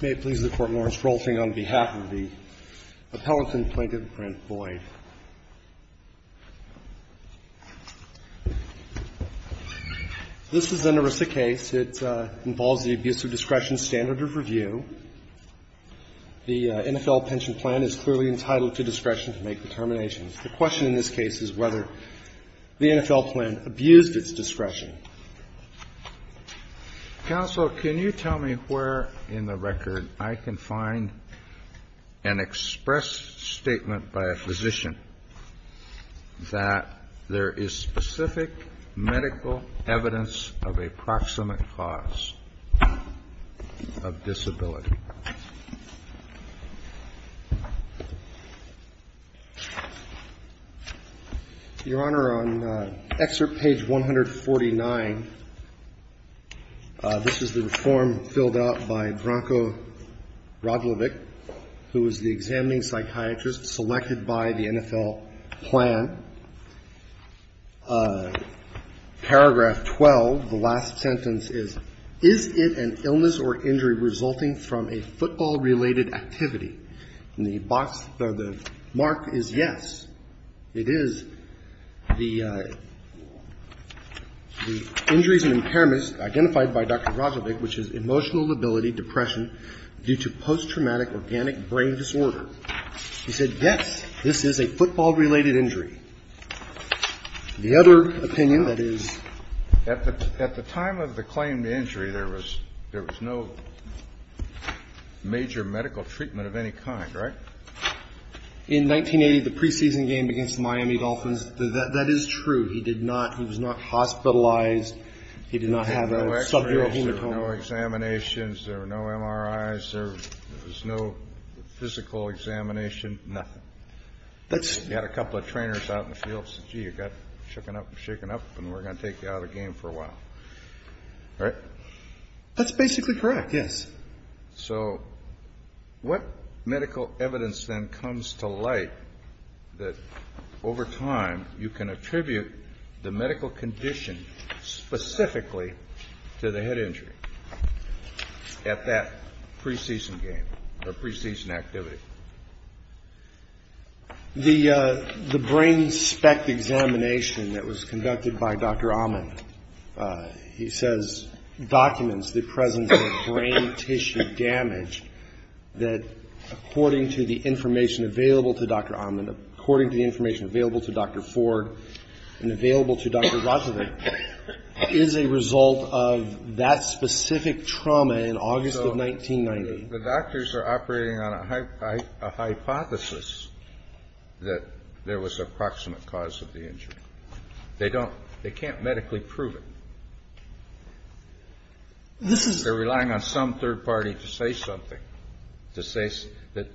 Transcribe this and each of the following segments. May it please the Court, Lawrence Rolfing, on behalf of the Appellant and Plaintiff, Brent Boyd. This is an ERISA case. It involves the abuse of discretion standard of review. The NFL pension plan is clearly entitled to discretion to make determinations. The question in this case is whether the NFL plan abused its discretion. Counsel, can you tell me where in the record I can find an express statement by a physician that there is specific medical evidence of a proximate cause of disability? Your Honor, on excerpt page 149, this is the form filled out by Branko Radlovich, who is the examining psychiatrist selected by the NFL plan. Paragraph 12, the last sentence, is, is it an illness or injury resulting from a football-related activity? And the box or the mark is yes. It is the injuries and impairments identified by Dr. Radlovich, which is emotional lability, depression due to post-traumatic organic brain disorder. He said, yes, this is a football-related injury. The other opinion that is. At the time of the claimed injury, there was no major medical treatment of any kind, right? In 1980, the preseason game against the Miami Dolphins, that is true. He did not, he was not hospitalized. He did not have a sub-zero hematoma. There were no examinations, there were no MRIs, there was no physical examination, nothing. He had a couple of trainers out in the field, said, gee, you got shooken up and shaken up, and we're going to take you out of the game for a while. Right? That's basically correct, yes. So what medical evidence then comes to light that over time you can attribute the medical condition specifically to the head injury at that preseason game or preseason activity? The brain spec examination that was conducted by Dr. Amin, he says, documents the presence of brain tissue damage that, according to the information available to Dr. Amin, according to the information available to Dr. Ford, and available to Dr. Radovich, is a result of that specific trauma in August of 1990. The doctors are operating on a hypothesis that there was approximate cause of the injury. They don't, they can't medically prove it. This is. They're relying on some third party to say something, to say that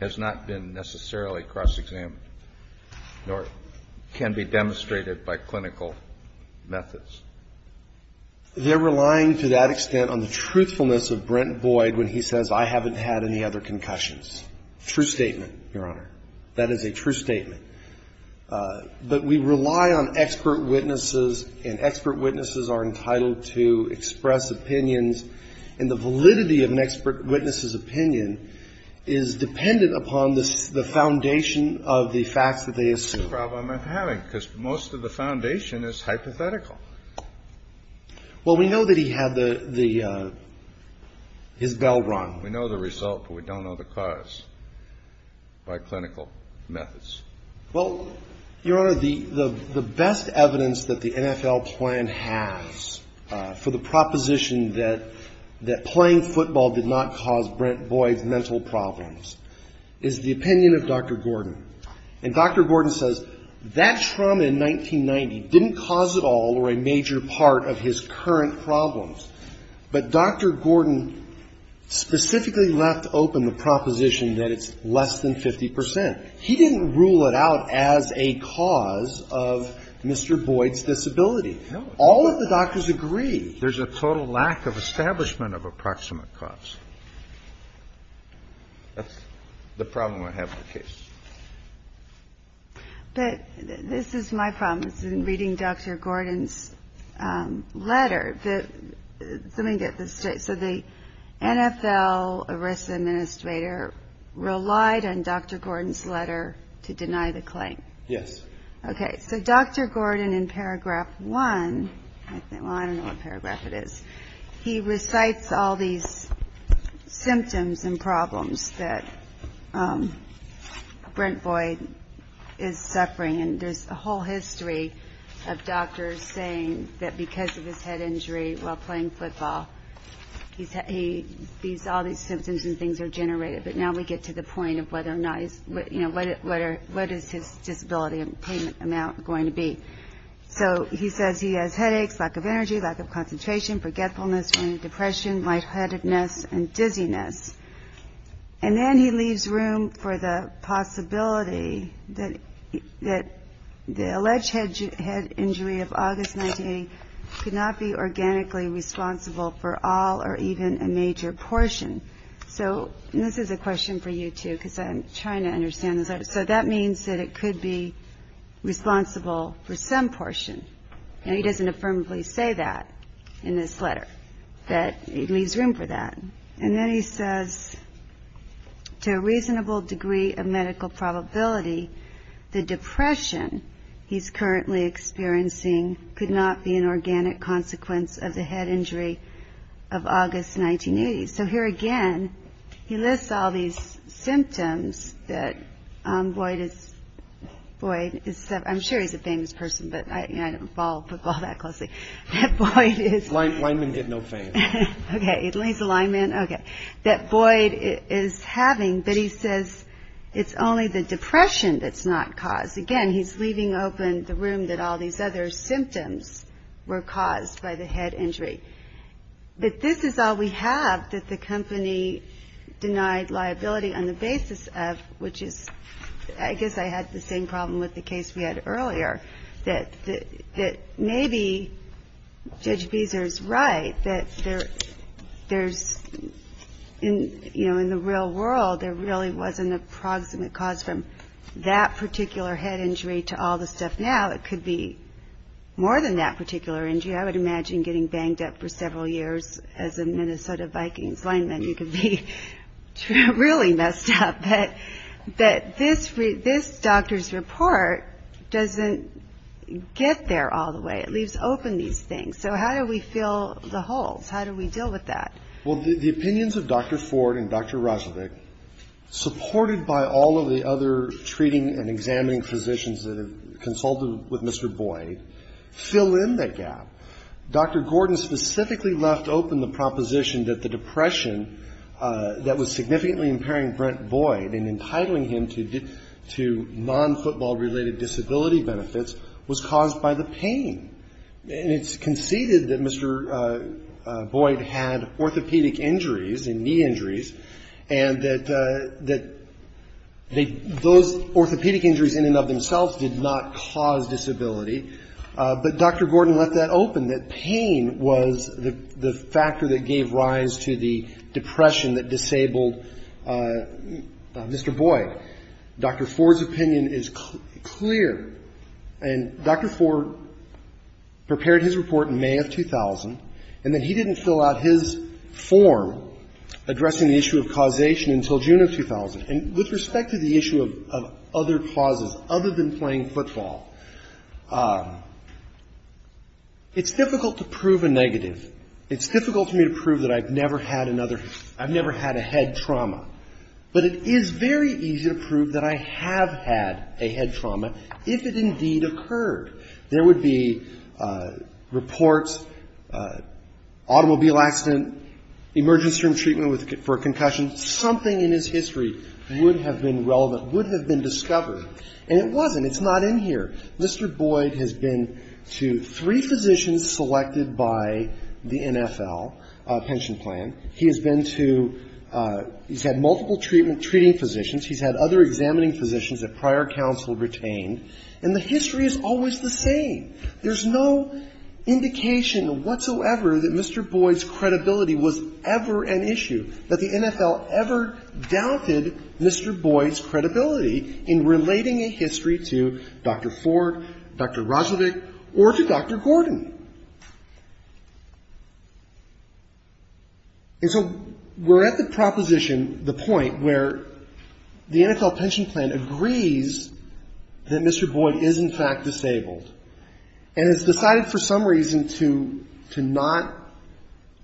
has not been necessarily cross-examined, nor can be demonstrated by clinical methods. They're relying to that extent on the truthfulness of Brent Boyd when he says, I haven't had any other concussions. True statement, Your Honor. That is a true statement. But we rely on expert witnesses, and expert witnesses are entitled to express opinions, and the validity of an expert witness's opinion is dependent upon the foundation of the facts that they assume. That's the problem I'm having, because most of the foundation is hypothetical. Well, we know that he had the, his bell run. We know the result, but we don't know the cause by clinical methods. Well, Your Honor, the best evidence that the NFL plan has for the proposition that playing football did not cause Brent Boyd mental problems is the opinion of Dr. Gordon. And Dr. Gordon says that trauma in 1990 didn't cause at all or a major part of his current problems. But Dr. Gordon specifically left open the proposition that it's less than 50 percent. He didn't rule it out as a cause of Mr. Boyd's disability. All of the doctors agree. There's a total lack of establishment of approximate cause. That's the problem I have with the case. But this is my problem. It's in reading Dr. Gordon's letter that, let me get this straight. So the NFL ERISA administrator relied on Dr. Gordon's letter to deny the claim. Yes. Okay. So Dr. Gordon, in paragraph one, well, I don't know what paragraph it is. He recites all these symptoms and problems that Brent Boyd is suffering. And there's a whole history of doctors saying that because of his head injury while playing football, all these symptoms and things are generated. But now we get to the point of what is his disability payment amount going to be. So he says he has headaches, lack of energy, lack of concentration, forgetfulness, depression, lightheadedness and dizziness. And then he leaves room for the possibility that the alleged head injury of August 1980 could not be organically responsible for all or even a major portion. So this is a question for you, too, because I'm trying to understand this. So that means that it could be responsible for some portion. And he doesn't affirmably say that in this letter, that he leaves room for that. And then he says, to a reasonable degree of medical probability, the depression he's currently experiencing could not be an organic consequence of the head injury of August 1980. So here again, he lists all these symptoms that Boyd is, Boyd is, I'm sure he's a famous person, but I don't follow football that closely, that Boyd is. Lineman get no fame. OK, he's a lineman. OK, that Boyd is having. But he says it's only the depression that's not caused. Again, he's leaving open the room that all these other symptoms were caused by the head injury. But this is all we have that the company denied liability on the basis of, which is, I guess I had the same problem with the case we had earlier, that that maybe Judge Beezer's right that there there's in, you know, in the real world, there really wasn't a proximate cause from that particular head injury to all the stuff. Now, it could be more than that particular injury. I would imagine getting banged up for several years as a Minnesota Vikings lineman, you could be really messed up. But that this this doctor's report doesn't get there all the way. It leaves open these things. So how do we fill the holes? How do we deal with that? Well, the opinions of Dr. Ford and Dr. Rozenick, supported by all of the other treating and examining physicians that have consulted with Mr. Boyd, fill in that gap. Dr. Gordon specifically left open the proposition that the depression that was significantly impairing Brent Boyd and entitling him to to non-football related disability benefits was caused by the pain. And it's conceded that Mr. Boyd had orthopedic injuries and knee injuries and that that those orthopedic injuries in and of themselves did not cause disability. But Dr. Gordon left that open, that pain was the factor that gave rise to the depression that disabled Mr. Boyd. Dr. Ford's opinion is clear. And Dr. Ford prepared his report in May of 2000 and that he didn't fill out his form addressing the issue of causation until June of 2000. And with respect to the issue of other causes other than playing football, it's difficult to prove a negative. It's difficult for me to prove that I've never had another I've never had a head trauma. But it is very easy to prove that I have had a head trauma if it indeed occurred. There would be reports, automobile accident, emergency room treatment for a concussion, something in his history would have been relevant, would have been discovered. And it wasn't. It's not in here. Mr. Boyd has been to three physicians selected by the NFL pension plan. He has been to he's had multiple treatment treating physicians. He's had other examining physicians that prior counsel retained. And the history is always the same. There's no indication whatsoever that Mr. Boyd's credibility was ever an issue, that the NFL ever doubted Mr. Boyd's credibility in relating a history to Dr. Ford, Dr. Rogelick, or to Dr. Gordon. And so we're at the proposition, the point where the NFL pension plan agrees that Mr. Boyd is in fact disabled and has decided for some reason to to not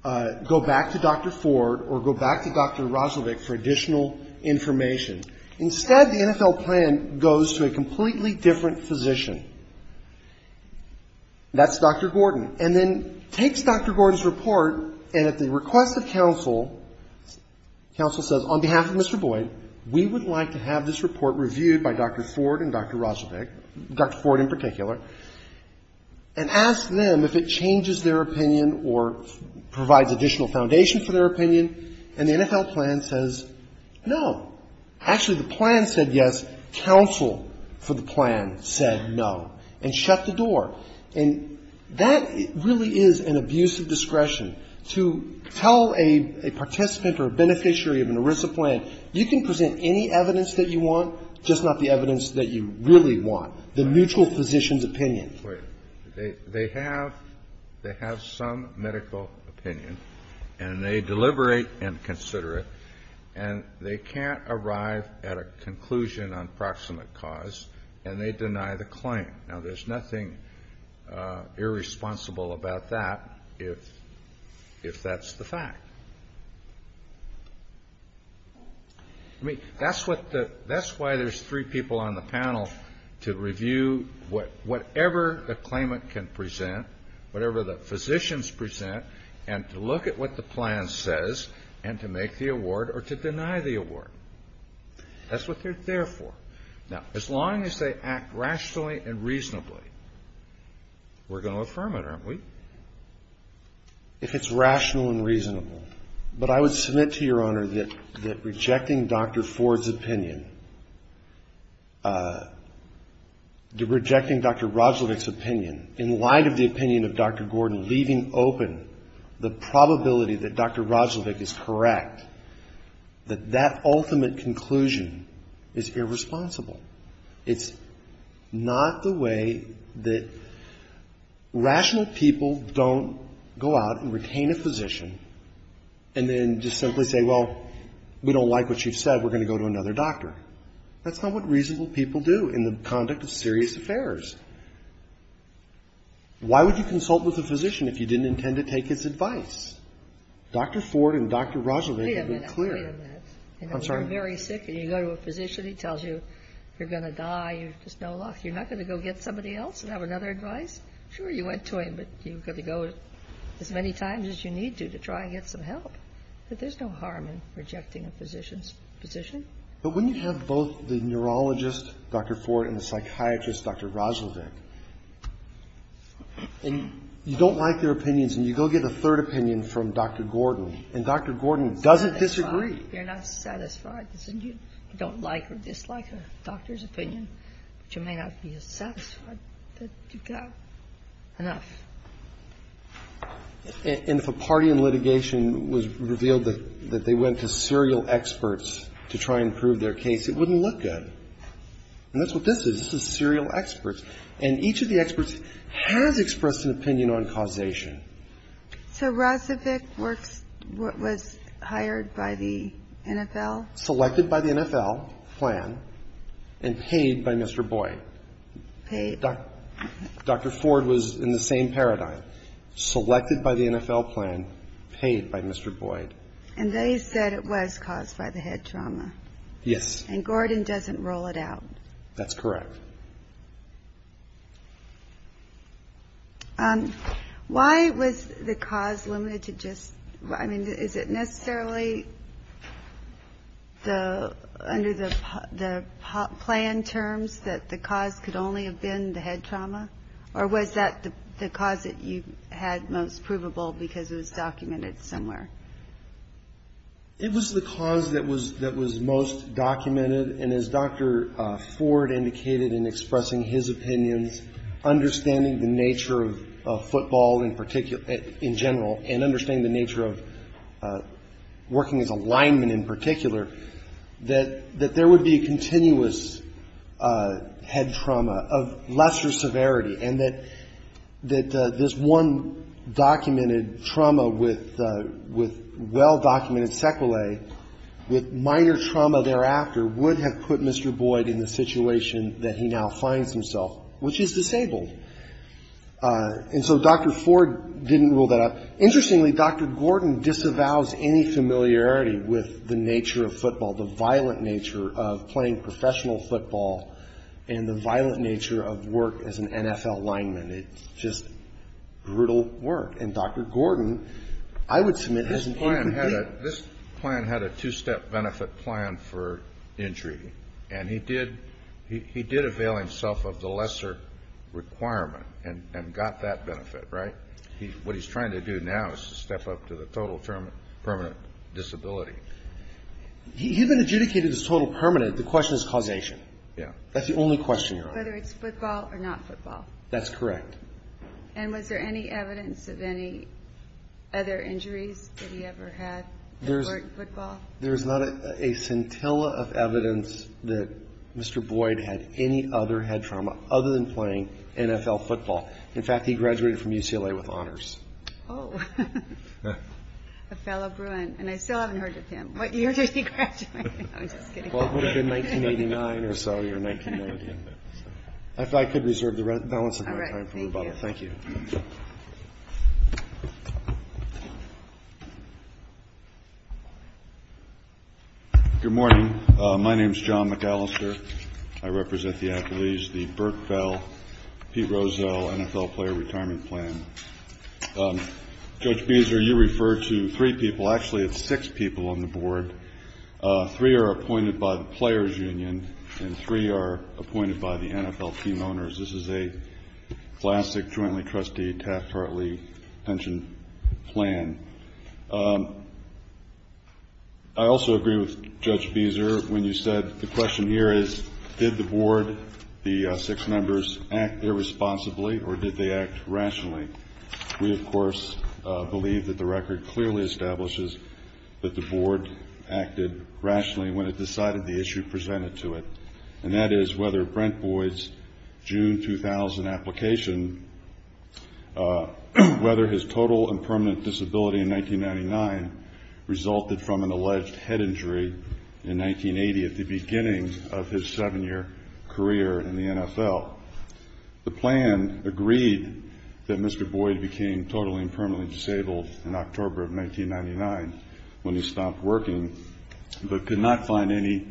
go back to Dr. Ford or go back to Dr. Rogelick for additional information. Instead, the NFL plan goes to a completely different physician. That's Dr. Gordon. And then takes Dr. Gordon's report, and at the request of counsel, counsel says, on behalf of Mr. Boyd, we would like to have this report reviewed by Dr. Ford and Dr. Rogelick, Dr. Ford in particular, and ask them if it changes their opinion or provides additional foundation for their opinion, and the NFL plan says no. Actually, the plan said yes, counsel for the plan said no, and shut the door. And that really is an abuse of discretion. To tell a participant or a beneficiary of an ERISA plan, you can present any evidence that you want, just not the evidence that you really want, the mutual physician's opinion. They have some medical opinion, and they deliberate and consider it, and they can't arrive at a conclusion on proximate cause, and they deny the claim. Now, there's nothing irresponsible about that, if that's the fact. I mean, that's why there's three people on the panel, to review whatever the claimant can present, whatever the physicians present, and to look at what the plan says, and to make the award or to deny the award. That's what they're there for. Now, as long as they act rationally and reasonably, we're going to affirm it, aren't we? If it's rational and reasonable. But I would submit to your honor that rejecting Dr. Ford's opinion, rejecting Dr. Roglevich's opinion, in light of the opinion of Dr. Gordon, leaving open the probability that Dr. is irresponsible. It's not the way that rational people don't go out and retain a physician, and then just simply say, well, we don't like what you've said. We're going to go to another doctor. That's not what reasonable people do in the conduct of serious affairs. Why would you consult with a physician if you didn't intend to take his advice? Dr. Ford and Dr. Roglevich have been clear. And if you're very sick and you go to a physician, he tells you, you're going to die. You're just no luck. You're not going to go get somebody else and have another advice? Sure, you went to him, but you've got to go as many times as you need to, to try and get some help. But there's no harm in rejecting a physician's position. But when you have both the neurologist, Dr. Ford, and the psychiatrist, Dr. Roglevich, and you don't like their opinions, and you go get a third opinion from Dr. Gordon, and Dr. Gordon doesn't disagree. You're not satisfied, isn't you? You don't like or dislike a doctor's opinion, but you may not be satisfied that you've got enough. And if a party in litigation was revealed that they went to serial experts to try and prove their case, it wouldn't look good. And that's what this is. This is serial experts. And each of the experts has expressed an opinion on causation. So Roglevich was hired by the NFL? Selected by the NFL plan, and paid by Mr. Boyd. Paid? Dr. Ford was in the same paradigm. Selected by the NFL plan, paid by Mr. Boyd. And they said it was caused by the head trauma. Yes. And Gordon doesn't rule it out. That's correct. Why was the cause limited to just, I mean, is it necessarily under the plan terms that the cause could only have been the head trauma? Or was that the cause that you had most provable because it was documented somewhere? It was the cause that was most documented. And as Dr. Ford indicated in expressing his opinions, understanding the nature of football in general, and understanding the nature of working as a lineman in particular, that there would be continuous head trauma of lesser severity. And that this one documented trauma with well-documented sequelae, with minor trauma thereafter, would have put Mr. Boyd in the situation that he now finds himself, which is disabled. And so Dr. Ford didn't rule that out. Interestingly, Dr. Gordon disavows any familiarity with the nature of football, the violent nature of playing professional football, and the violent nature of work as an NFL lineman. It's just brutal work. And Dr. Gordon, I would submit, has an incomplete- This client had a two-step benefit plan for injury. And he did avail himself of the lesser requirement and got that benefit, right? What he's trying to do now is to step up to the total permanent disability. He even adjudicated this total permanent. The question is causation. Yeah. That's the only question you're asking. Whether it's football or not football. That's correct. And was there any evidence of any other injuries that he ever had at work football? There's not a scintilla of evidence that Mr. Boyd had any other head trauma other than playing NFL football. In fact, he graduated from UCLA with honors. Oh, a fellow Bruin. And I still haven't heard of him. What year did he graduate? I'm just kidding. Well, it would have been 1989 or so, or 1990. If I could reserve the balance of my time for rebuttal. Thank you. Good morning. My name's John McAllister. I represent the athletes, the Burt Bell, Pete Rosell NFL player retirement plan. Judge Beezer, you referred to three people. Actually, it's six people on the board. Three are appointed by the Players Union. And three are appointed by the NFL team owners. This is a classic jointly trustee Taft-Hartley pension plan. I also agree with Judge Beezer when you said the question here is, did the board, the six members, act irresponsibly or did they act rationally? We, of course, believe that the record clearly establishes that the board acted rationally when it decided the issue presented to it. And that is whether Brent Boyd's June 2000 application, whether his total and permanent disability in 1999 resulted from an alleged head injury in 1980 at the beginning of his seven-year career in the NFL. The plan agreed that Mr. Boyd became totally and permanently disabled in October of 1999 when he stopped working, but could not find any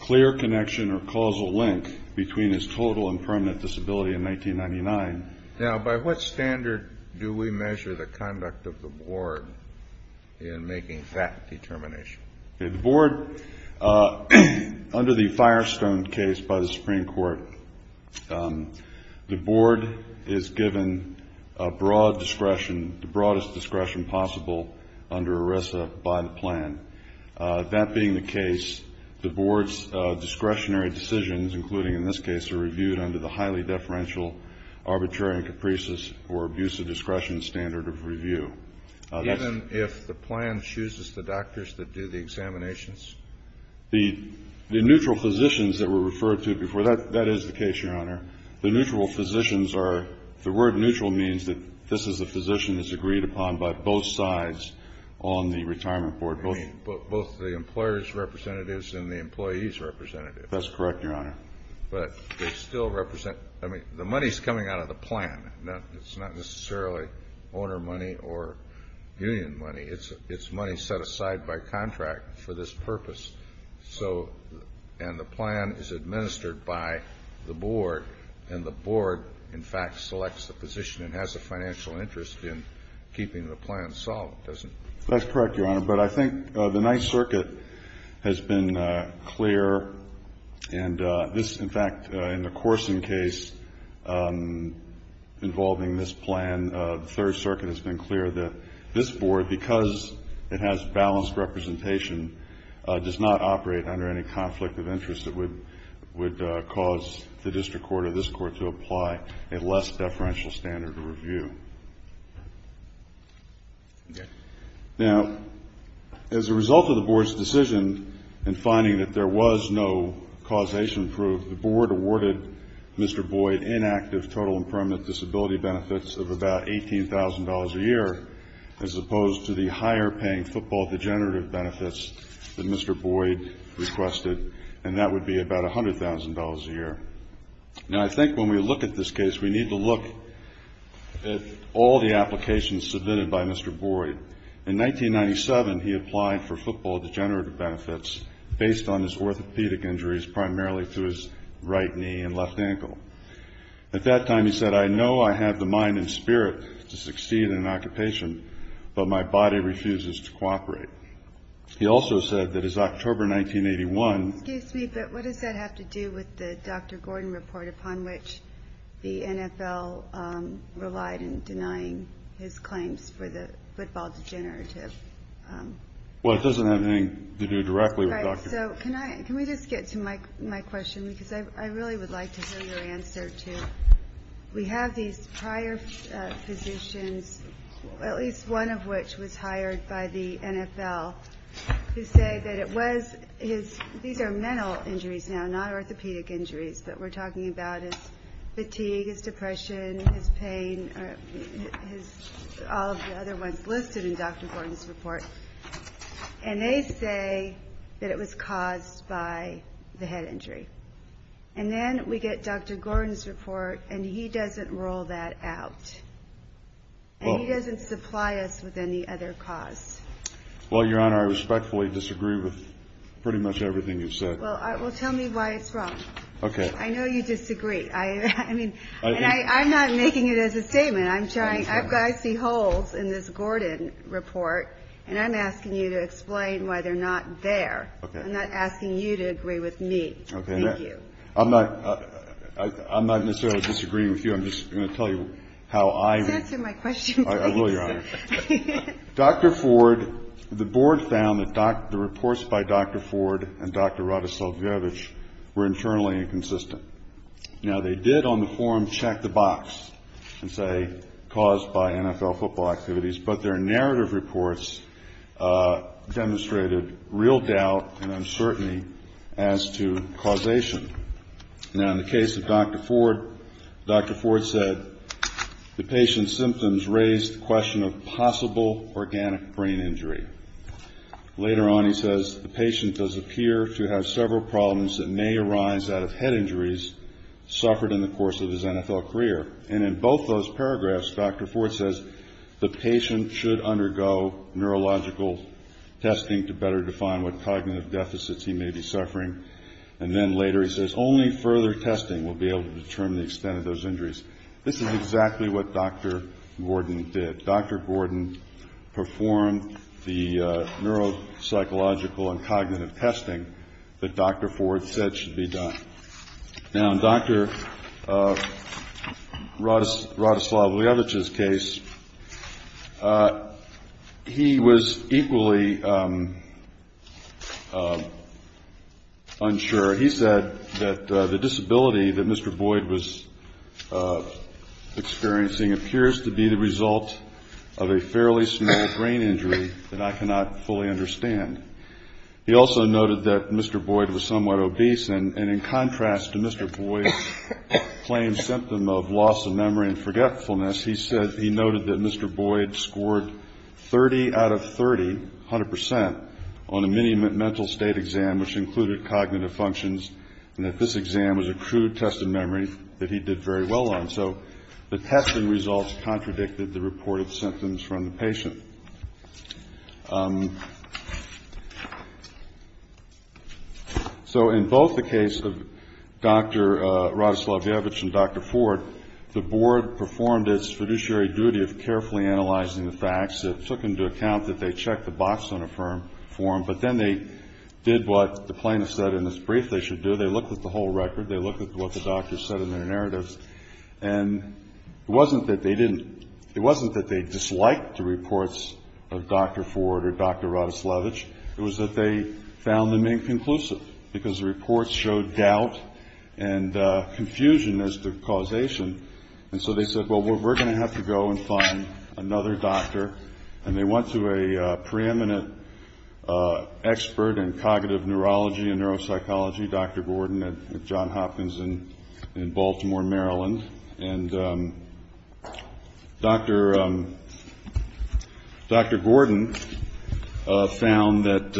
clear connection or causal link between his total and permanent disability in 1999. Now, by what standard do we measure the conduct of the board in making that determination? The board, under the Firestone case by the Supreme Court, the board is given broad discretion, the broadest discretion possible under ERISA by the plan. That being the case, the board's discretionary decisions, including in this case, are reviewed under the highly deferential, arbitrary and capricious or abusive discretion standard of review. Even if the plan chooses the doctors that do the examinations? The neutral physicians that were referred to before, that is the case, Your Honor. The neutral physicians are... The word neutral means that this is a physician that's agreed upon by both sides on the retirement board. Both the employers' representatives and the employees' representatives. That's correct, Your Honor. But they still represent... I mean, the money's coming out of the plan. It's not necessarily owner money or union money. It's money set aside by contract for this purpose. So, and the plan is administered by the board. And the board, in fact, selects the position and has a financial interest in keeping the plan solid, doesn't it? That's correct, Your Honor. But I think the Ninth Circuit has been clear. And this, in fact, in the Corson case involving this plan, the Third Circuit has been clear that this board, because it has balanced representation, does not operate under any conflict of interest that would cause the district court or this court to apply a less deferential standard of review. Now, as a result of the board's decision in finding that there was no causation proof, the board awarded Mr. Boyd inactive total and permanent disability benefits of about $18,000 a year, as opposed to the higher-paying football degenerative benefits that Mr. Boyd requested, and that would be about $100,000 a year. Now, I think when we look at this case, we need to look at all the applications submitted by Mr. Boyd. In 1997, he applied for football degenerative benefits based on his orthopedic injuries, primarily through his right knee and left ankle. At that time, he said, I know I have the mind and spirit to succeed in an occupation, but my body refuses to cooperate. He also said that as October 1981... Excuse me, but what does that have to do with the Dr. Gordon report upon which the NFL relied in denying his claims for the football degenerative... Well, it doesn't have anything to do directly with Dr. Gordon. Right, so can we just get to my question, because I really would like to hear your answer, too. We have these prior physicians, at least one of which was hired by the NFL, who say that it was his... These are mental injuries now, not orthopedic injuries, but we're talking about his fatigue, his depression, his pain, all of the other ones listed in Dr. Gordon's report. And they say that it was caused by the head injury. And then we get Dr. Gordon's report, and he doesn't rule that out. And he doesn't supply us with any other cause. Well, Your Honor, I respectfully disagree with pretty much everything you've said. Well, tell me why it's wrong. Okay. I know you disagree. I'm not making it as a statement. I'm trying... I see holes in this Gordon report, and I'm asking you to explain why they're not there. I'm not asking you to agree with me. Okay. I'm not necessarily disagreeing with you. I'm just going to tell you how I... Please answer my question, please. I will, Your Honor. Dr. Ford, the board found that the reports by Dr. Ford and Dr. Radicevich were internally inconsistent. Now, they did on the forum check the box and say caused by NFL football activities, but their narrative reports demonstrated real doubt and uncertainty as to causation. Now, in the case of Dr. Ford, Dr. Ford said, the patient's symptoms raised the question of possible organic brain injury. Later on, he says, the patient does appear to have several problems that may arise out of head injuries suffered in the course of his NFL career. And in both those paragraphs, Dr. Ford says, the patient should undergo neurological testing to better define what cognitive deficits he may be suffering. And then later he says, only further testing will be able to determine the extent of those injuries. This is exactly what Dr. Gordon did. Dr. Gordon performed the neuropsychological and cognitive testing that Dr. Ford said should be done. Now, in Dr. Radoslavljevic's case, he was equally unsure. He said that the disability that Mr. Boyd was experiencing appears to be the result of a fairly small brain injury that I cannot fully understand. He also noted that Mr. Boyd was somewhat obese. And in contrast to Mr. Boyd's claimed symptom of loss of memory and forgetfulness, he noted that Mr. Boyd scored 30 out of 30, 100%, on a mini mental state exam which included cognitive functions, and that this exam was a crude test of memory that he did very well on. So the testing results contradicted the reported symptoms from the patient. So in both the case of Dr. Radoslavljevic and Dr. Ford, the board performed its fiduciary duty of carefully analyzing the facts that took into account that they checked the box on a firm form, but then they did what the plaintiff said in this brief they should do. They looked at the whole record. They looked at what the doctor said in their narratives. And it wasn't that they didn't, it wasn't that they disliked the reports of Dr. Ford or Dr. Radoslavljevic. It was that they found them inconclusive because the reports showed doubt and confusion as to causation. And so they said, well, we're going to have to go and find another doctor. And they went to a preeminent expert in cognitive neurology and neuropsychology, Dr. Gordon at John Hopkins in Baltimore, Maryland. And Dr. Gordon found that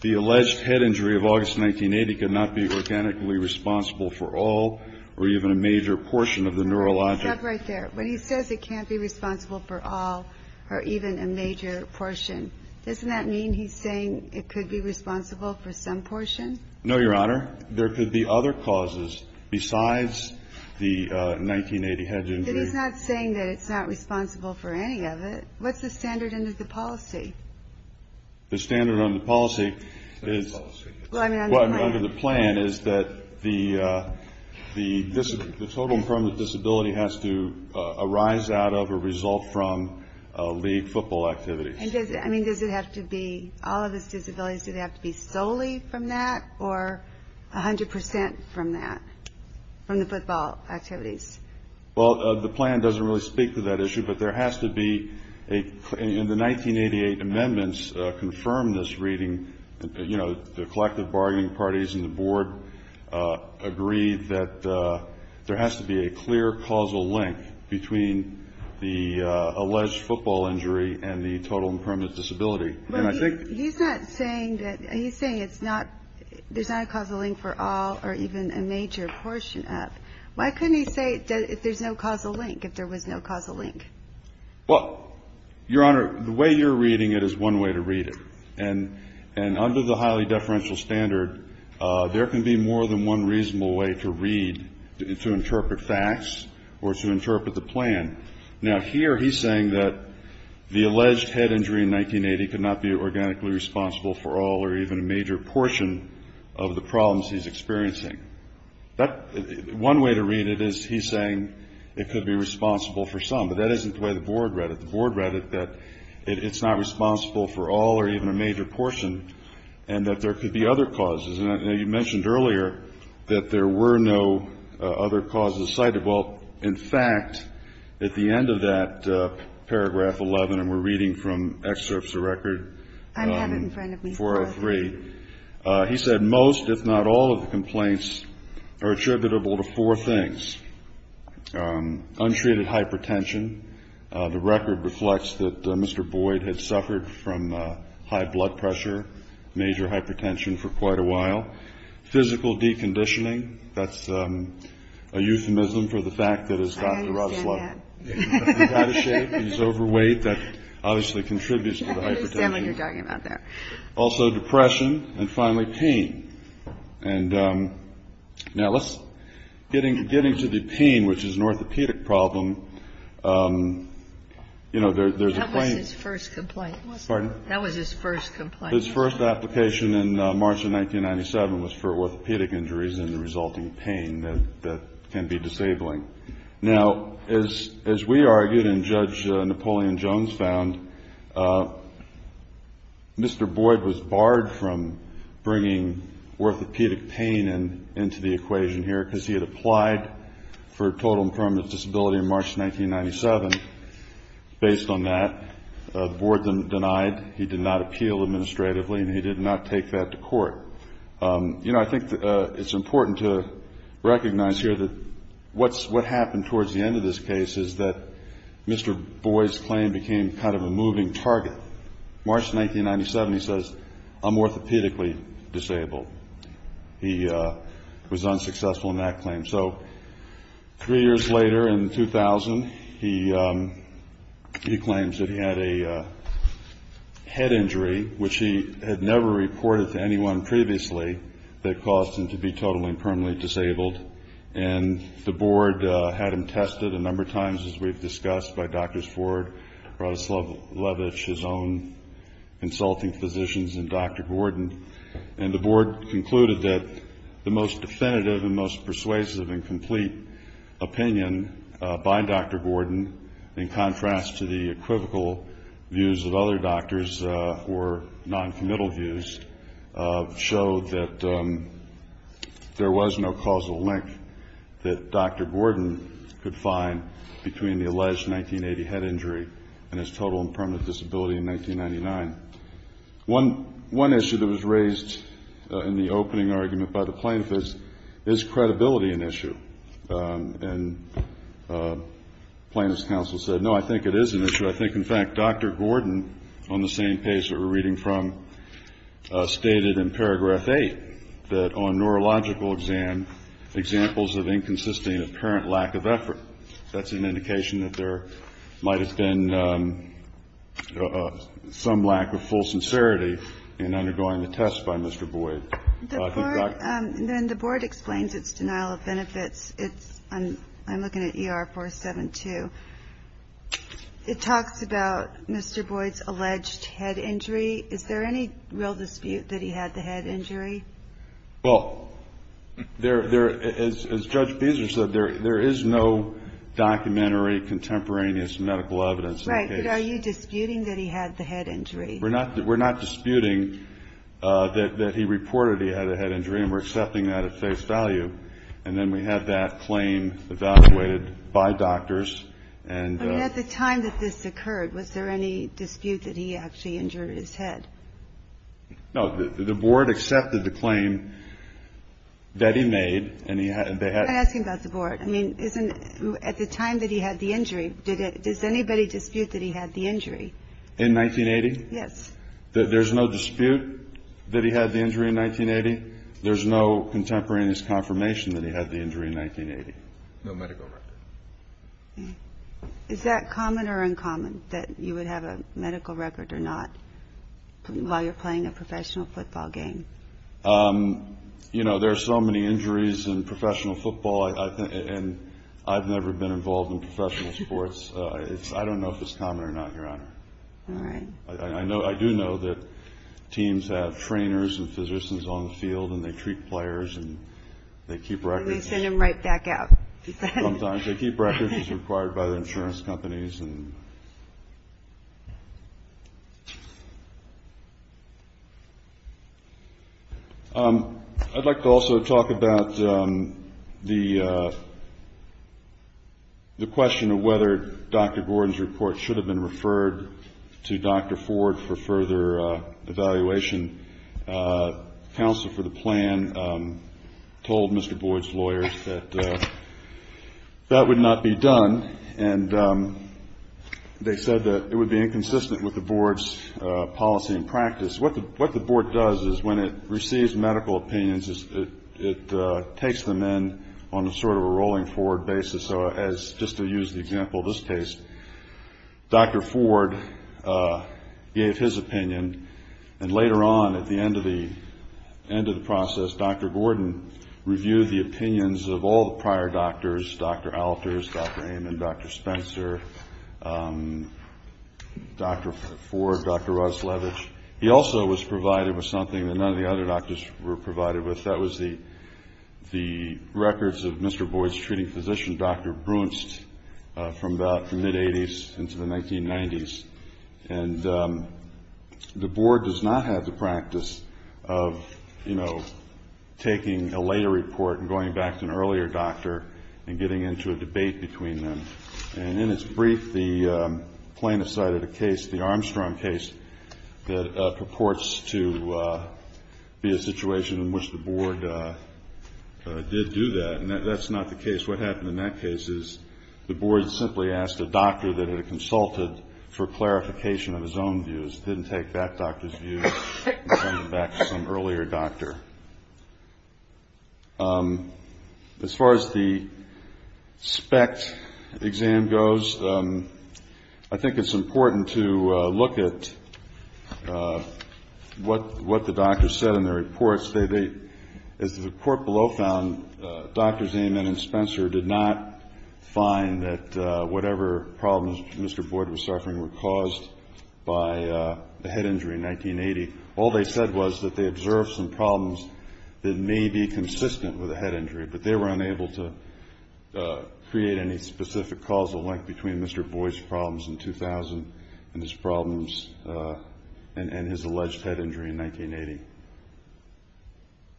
the alleged head injury of August, 1980 could not be organically responsible for all or even a major portion of the neurologic. Stop right there. When he says it can't be responsible for all or even a major portion, doesn't that mean he's saying it could be responsible for some portion? No, Your Honor. There could be other causes besides the 1980 head injury. He's not saying that it's not responsible for any of it. What's the standard under the policy? The standard under the policy is... Under the policy. Well, I mean, under the plan. Under the plan is that the total infirmity disability has to arise out of or result from league football activities. I mean, does it have to be all of his disabilities? Do they have to be solely from that or 100% from that, from the football activities? Well, the plan doesn't really speak to that issue, but there has to be a... In the 1988 amendments confirmed this reading, you know, the collective bargaining parties and the board agreed that there has to be a clear causal link between the alleged football injury and the total impermanent disability. And I think... He's not saying that... He's saying it's not... There's not a causal link for all or even a major portion of... Why couldn't he say if there's no causal link, if there was no causal link? Well, Your Honor, the way you're reading it is one way to read it. And under the highly deferential standard, there can be more than one reasonable way to read, to interpret facts or to interpret the plan. Now, here he's saying that the alleged head injury in 1980 could not be organically responsible for all or even a major portion of the problems he's experiencing. One way to read it is he's saying it could be responsible for some, but that isn't the way the board read it. The board read it that it's not responsible for all or even a major portion and that there could be other causes. And you mentioned earlier that there were no other causes cited. Well, in fact, at the end of that paragraph 11, and we're reading from excerpts of record... I have it in front of me. 403. He said most, if not all, of the complaints are attributable to four things. First, untreated hypertension. The record reflects that Mr. Boyd had suffered from high blood pressure, major hypertension for quite a while. Physical deconditioning. That's a euphemism for the fact that his doctor... I understand that. He's out of shape. He's overweight. That obviously contributes to the hypertension. I understand what you're talking about there. Also depression and finally pain. And now, getting to the pain, which is an orthopedic problem, you know, there's a point... That was his first complaint. Pardon? That was his first complaint. His first application in March of 1997 was for orthopedic injuries and the resulting pain that can be disabling. Now, as we argued and Judge Napoleon Jones found, Mr. Boyd was barred from bringing orthopedic pain into the equation here because he had applied for total and permanent disability in March 1997. Based on that, the board denied. He did not appeal administratively and he did not take that to court. You know, I think it's important to recognize here that what happened towards the end of this case is that Mr. Boyd's claim became kind of a moving target. March 1997, he says, I'm orthopedically disabled. He was unsuccessful in that claim. So three years later in 2000, he claims that he had a head injury, which he had never reported to anyone previously that caused him to be totally and permanently disabled. And the board had him tested a number of times, as we've discussed, by Drs. Ford, Radoslav Levich, his own consulting physicians, and Dr. Gordon. And the board concluded that the most definitive and most persuasive and complete opinion by Dr. Gordon, in contrast to the equivocal views of other doctors or noncommittal views, showed that there was no causal link that Dr. Gordon could find between the alleged 1980 head injury and his total and permanent disability in 1999. One issue that was raised in the opening argument by the plaintiff is, is credibility an issue? And plaintiff's counsel said, no, I think it is an issue. I think, in fact, Dr. Gordon, on the same page that we're reading from, stated in paragraph eight, that on neurological exam, examples of inconsistent apparent lack of effort. That's an indication that there might have been some lack of full sincerity in undergoing the test by Mr. Boyd. I think Dr. And then the board explains its denial of benefits. It's, I'm looking at ER 472. It talks about Mr. Boyd's alleged head injury. Is there any real dispute that he had the head injury? Well, there, as Judge Beezer said, there is no documentary contemporaneous medical evidence. Right. Are you disputing that he had the head injury? We're not disputing that he reported he had a head injury, and we're accepting that at face value. And then we have that claim evaluated by doctors. And at the time that this occurred, was there any dispute that he actually injured his head? No. The board accepted the claim that he made. I'm not asking about the board. I mean, at the time that he had the injury, does anybody dispute that he had the injury? In 1980? Yes. There's no dispute that he had the injury in 1980? There's no contemporaneous confirmation that he had the injury in 1980? No medical record. Okay. Is that common or uncommon, that you would have a medical record or not while you're playing a professional football game? You know, there are so many injuries in professional football, and I've never been involved in professional sports. I don't know if it's common or not, Your Honor. All right. I do know that teams have trainers and physicians on the field, and they treat players, and they keep records. And they send them right back out. Sometimes they keep records as required by the insurance companies. I'd like to also talk about the question of whether Dr. Gordon's report should have been referred to Dr. Ford for further evaluation. The counsel for the plan told Mr. Boyd's lawyers that that would not be done, and they said that it would be inconsistent with the board's policy and practice. What the board does is, when it receives medical opinions, it takes them in on a sort of a rolling forward basis. Just to use the example of this case, Dr. Ford gave his opinion, and later on, at the end of the process, Dr. Gordon reviewed the opinions of all the prior doctors, Dr. Alters, Dr. Amen, Dr. Spencer, Dr. Ford, Dr. Roslevich. He also was provided with something that none of the other doctors were provided with. That was the records of Mr. Boyd's treating physician, Dr. Brunst, from about the mid-'80s into the 1990s. And the board does not have the practice of, you know, taking a later report and going back to an earlier doctor and getting into a debate between them. And in its brief, the plaintiffs cited a case, the Armstrong case, that purports to be a situation in which the board did do that. And that's not the case. What happened in that case is, the board simply asked a doctor that it had consulted for clarification of his own views, didn't take that doctor's view and sent it back to some earlier doctor. As far as the SPECT exam goes, I think it's important to look at what the doctors said in their reports. As the report below found, Drs. Amen and Spencer did not find that whatever problems Mr. Boyd was suffering were caused by the head injury in 1980. All they said was that they observed some problems that may be consistent with a head injury, but they were unable to create any specific causal link between Mr. Boyd's problems in 2000 and his problems and his alleged head injury in 1980.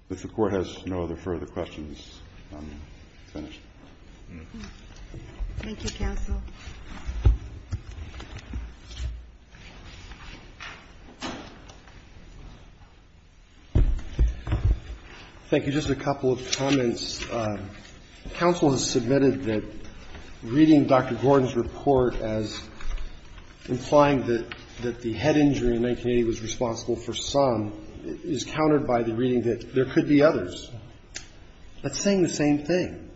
If the Court has no other further questions, I'm finished. Thank you, Counsel. Thank you. Just a couple of comments. Counsel has submitted that reading Dr. Gordon's report as implying that the head injury in 1980 was responsible for some is countered by the reading that there could be others. That's saying the same thing.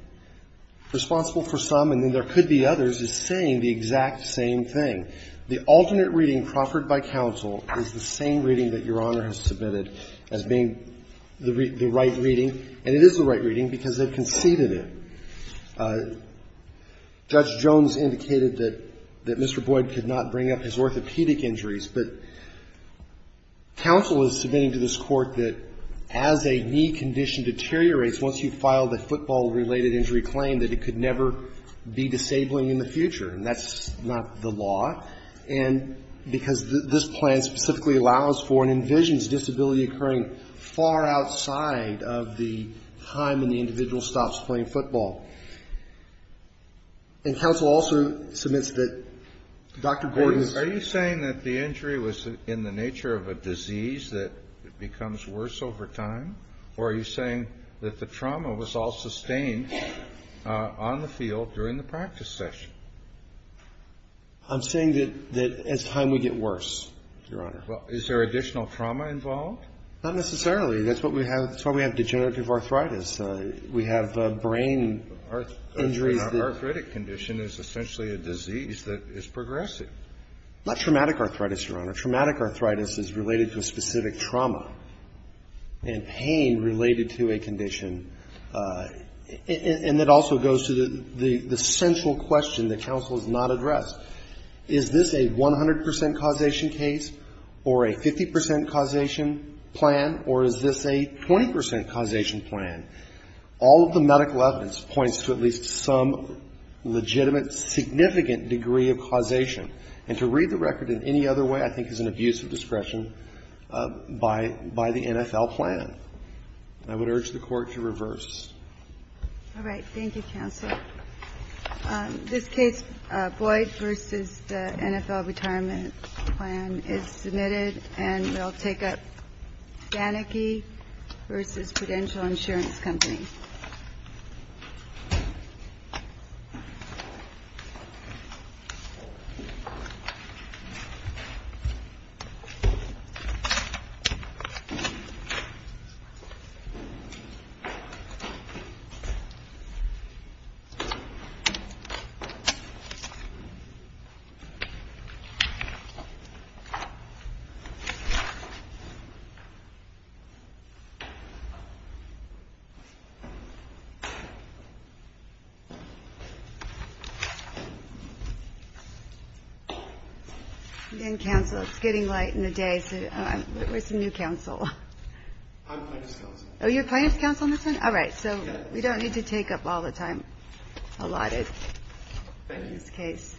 Responsible for some and then there could be others is saying the exact same thing. The alternate reading proffered by Counsel is the same reading that Your Honor has submitted as being the right reading, and it is the right reading because they've conceded it. Judge Jones indicated that Mr. Boyd could not bring up his orthopedic injuries, but Counsel is submitting to this Court that as a knee condition deteriorates once you file the football-related injury claim, that it could never be disabling in the future, and that's not the law, and because this plan specifically allows for and envisions disability occurring far outside of the time when the individual stops playing football. And Counsel also submits that Dr. Gordon's. Are you saying that the injury was in the nature of a disease that becomes worse over time, or are you saying that the trauma was all sustained on the field during the practice session? I'm saying that as time would get worse, Your Honor. Well, is there additional trauma involved? Not necessarily. That's what we have. That's why we have degenerative arthritis. We have brain injuries. An arthritic condition is essentially a disease that is progressive. Not traumatic arthritis, Your Honor. Traumatic arthritis is related to a specific trauma. And pain related to a condition. And that also goes to the central question that Counsel has not addressed. Is this a 100 percent causation case, or a 50 percent causation plan, or is this a 20 percent causation plan? All of the medical evidence points to at least some legitimate, significant degree of causation. And to read the record in any other way, I think, is an abuse of discretion by the NFL plan. I would urge the Court to reverse. All right. Thank you, Counsel. This case, Boyd v. the NFL Retirement Plan, is submitted. And we'll take up Faneke v. Prudential Insurance Company. Again, Counsel, it's getting late in the day, so where's the new counsel? I'm Plaintiff's Counsel. Oh, you're Plaintiff's Counsel on this one? All right. So we don't need to take up all the time allotted in this case.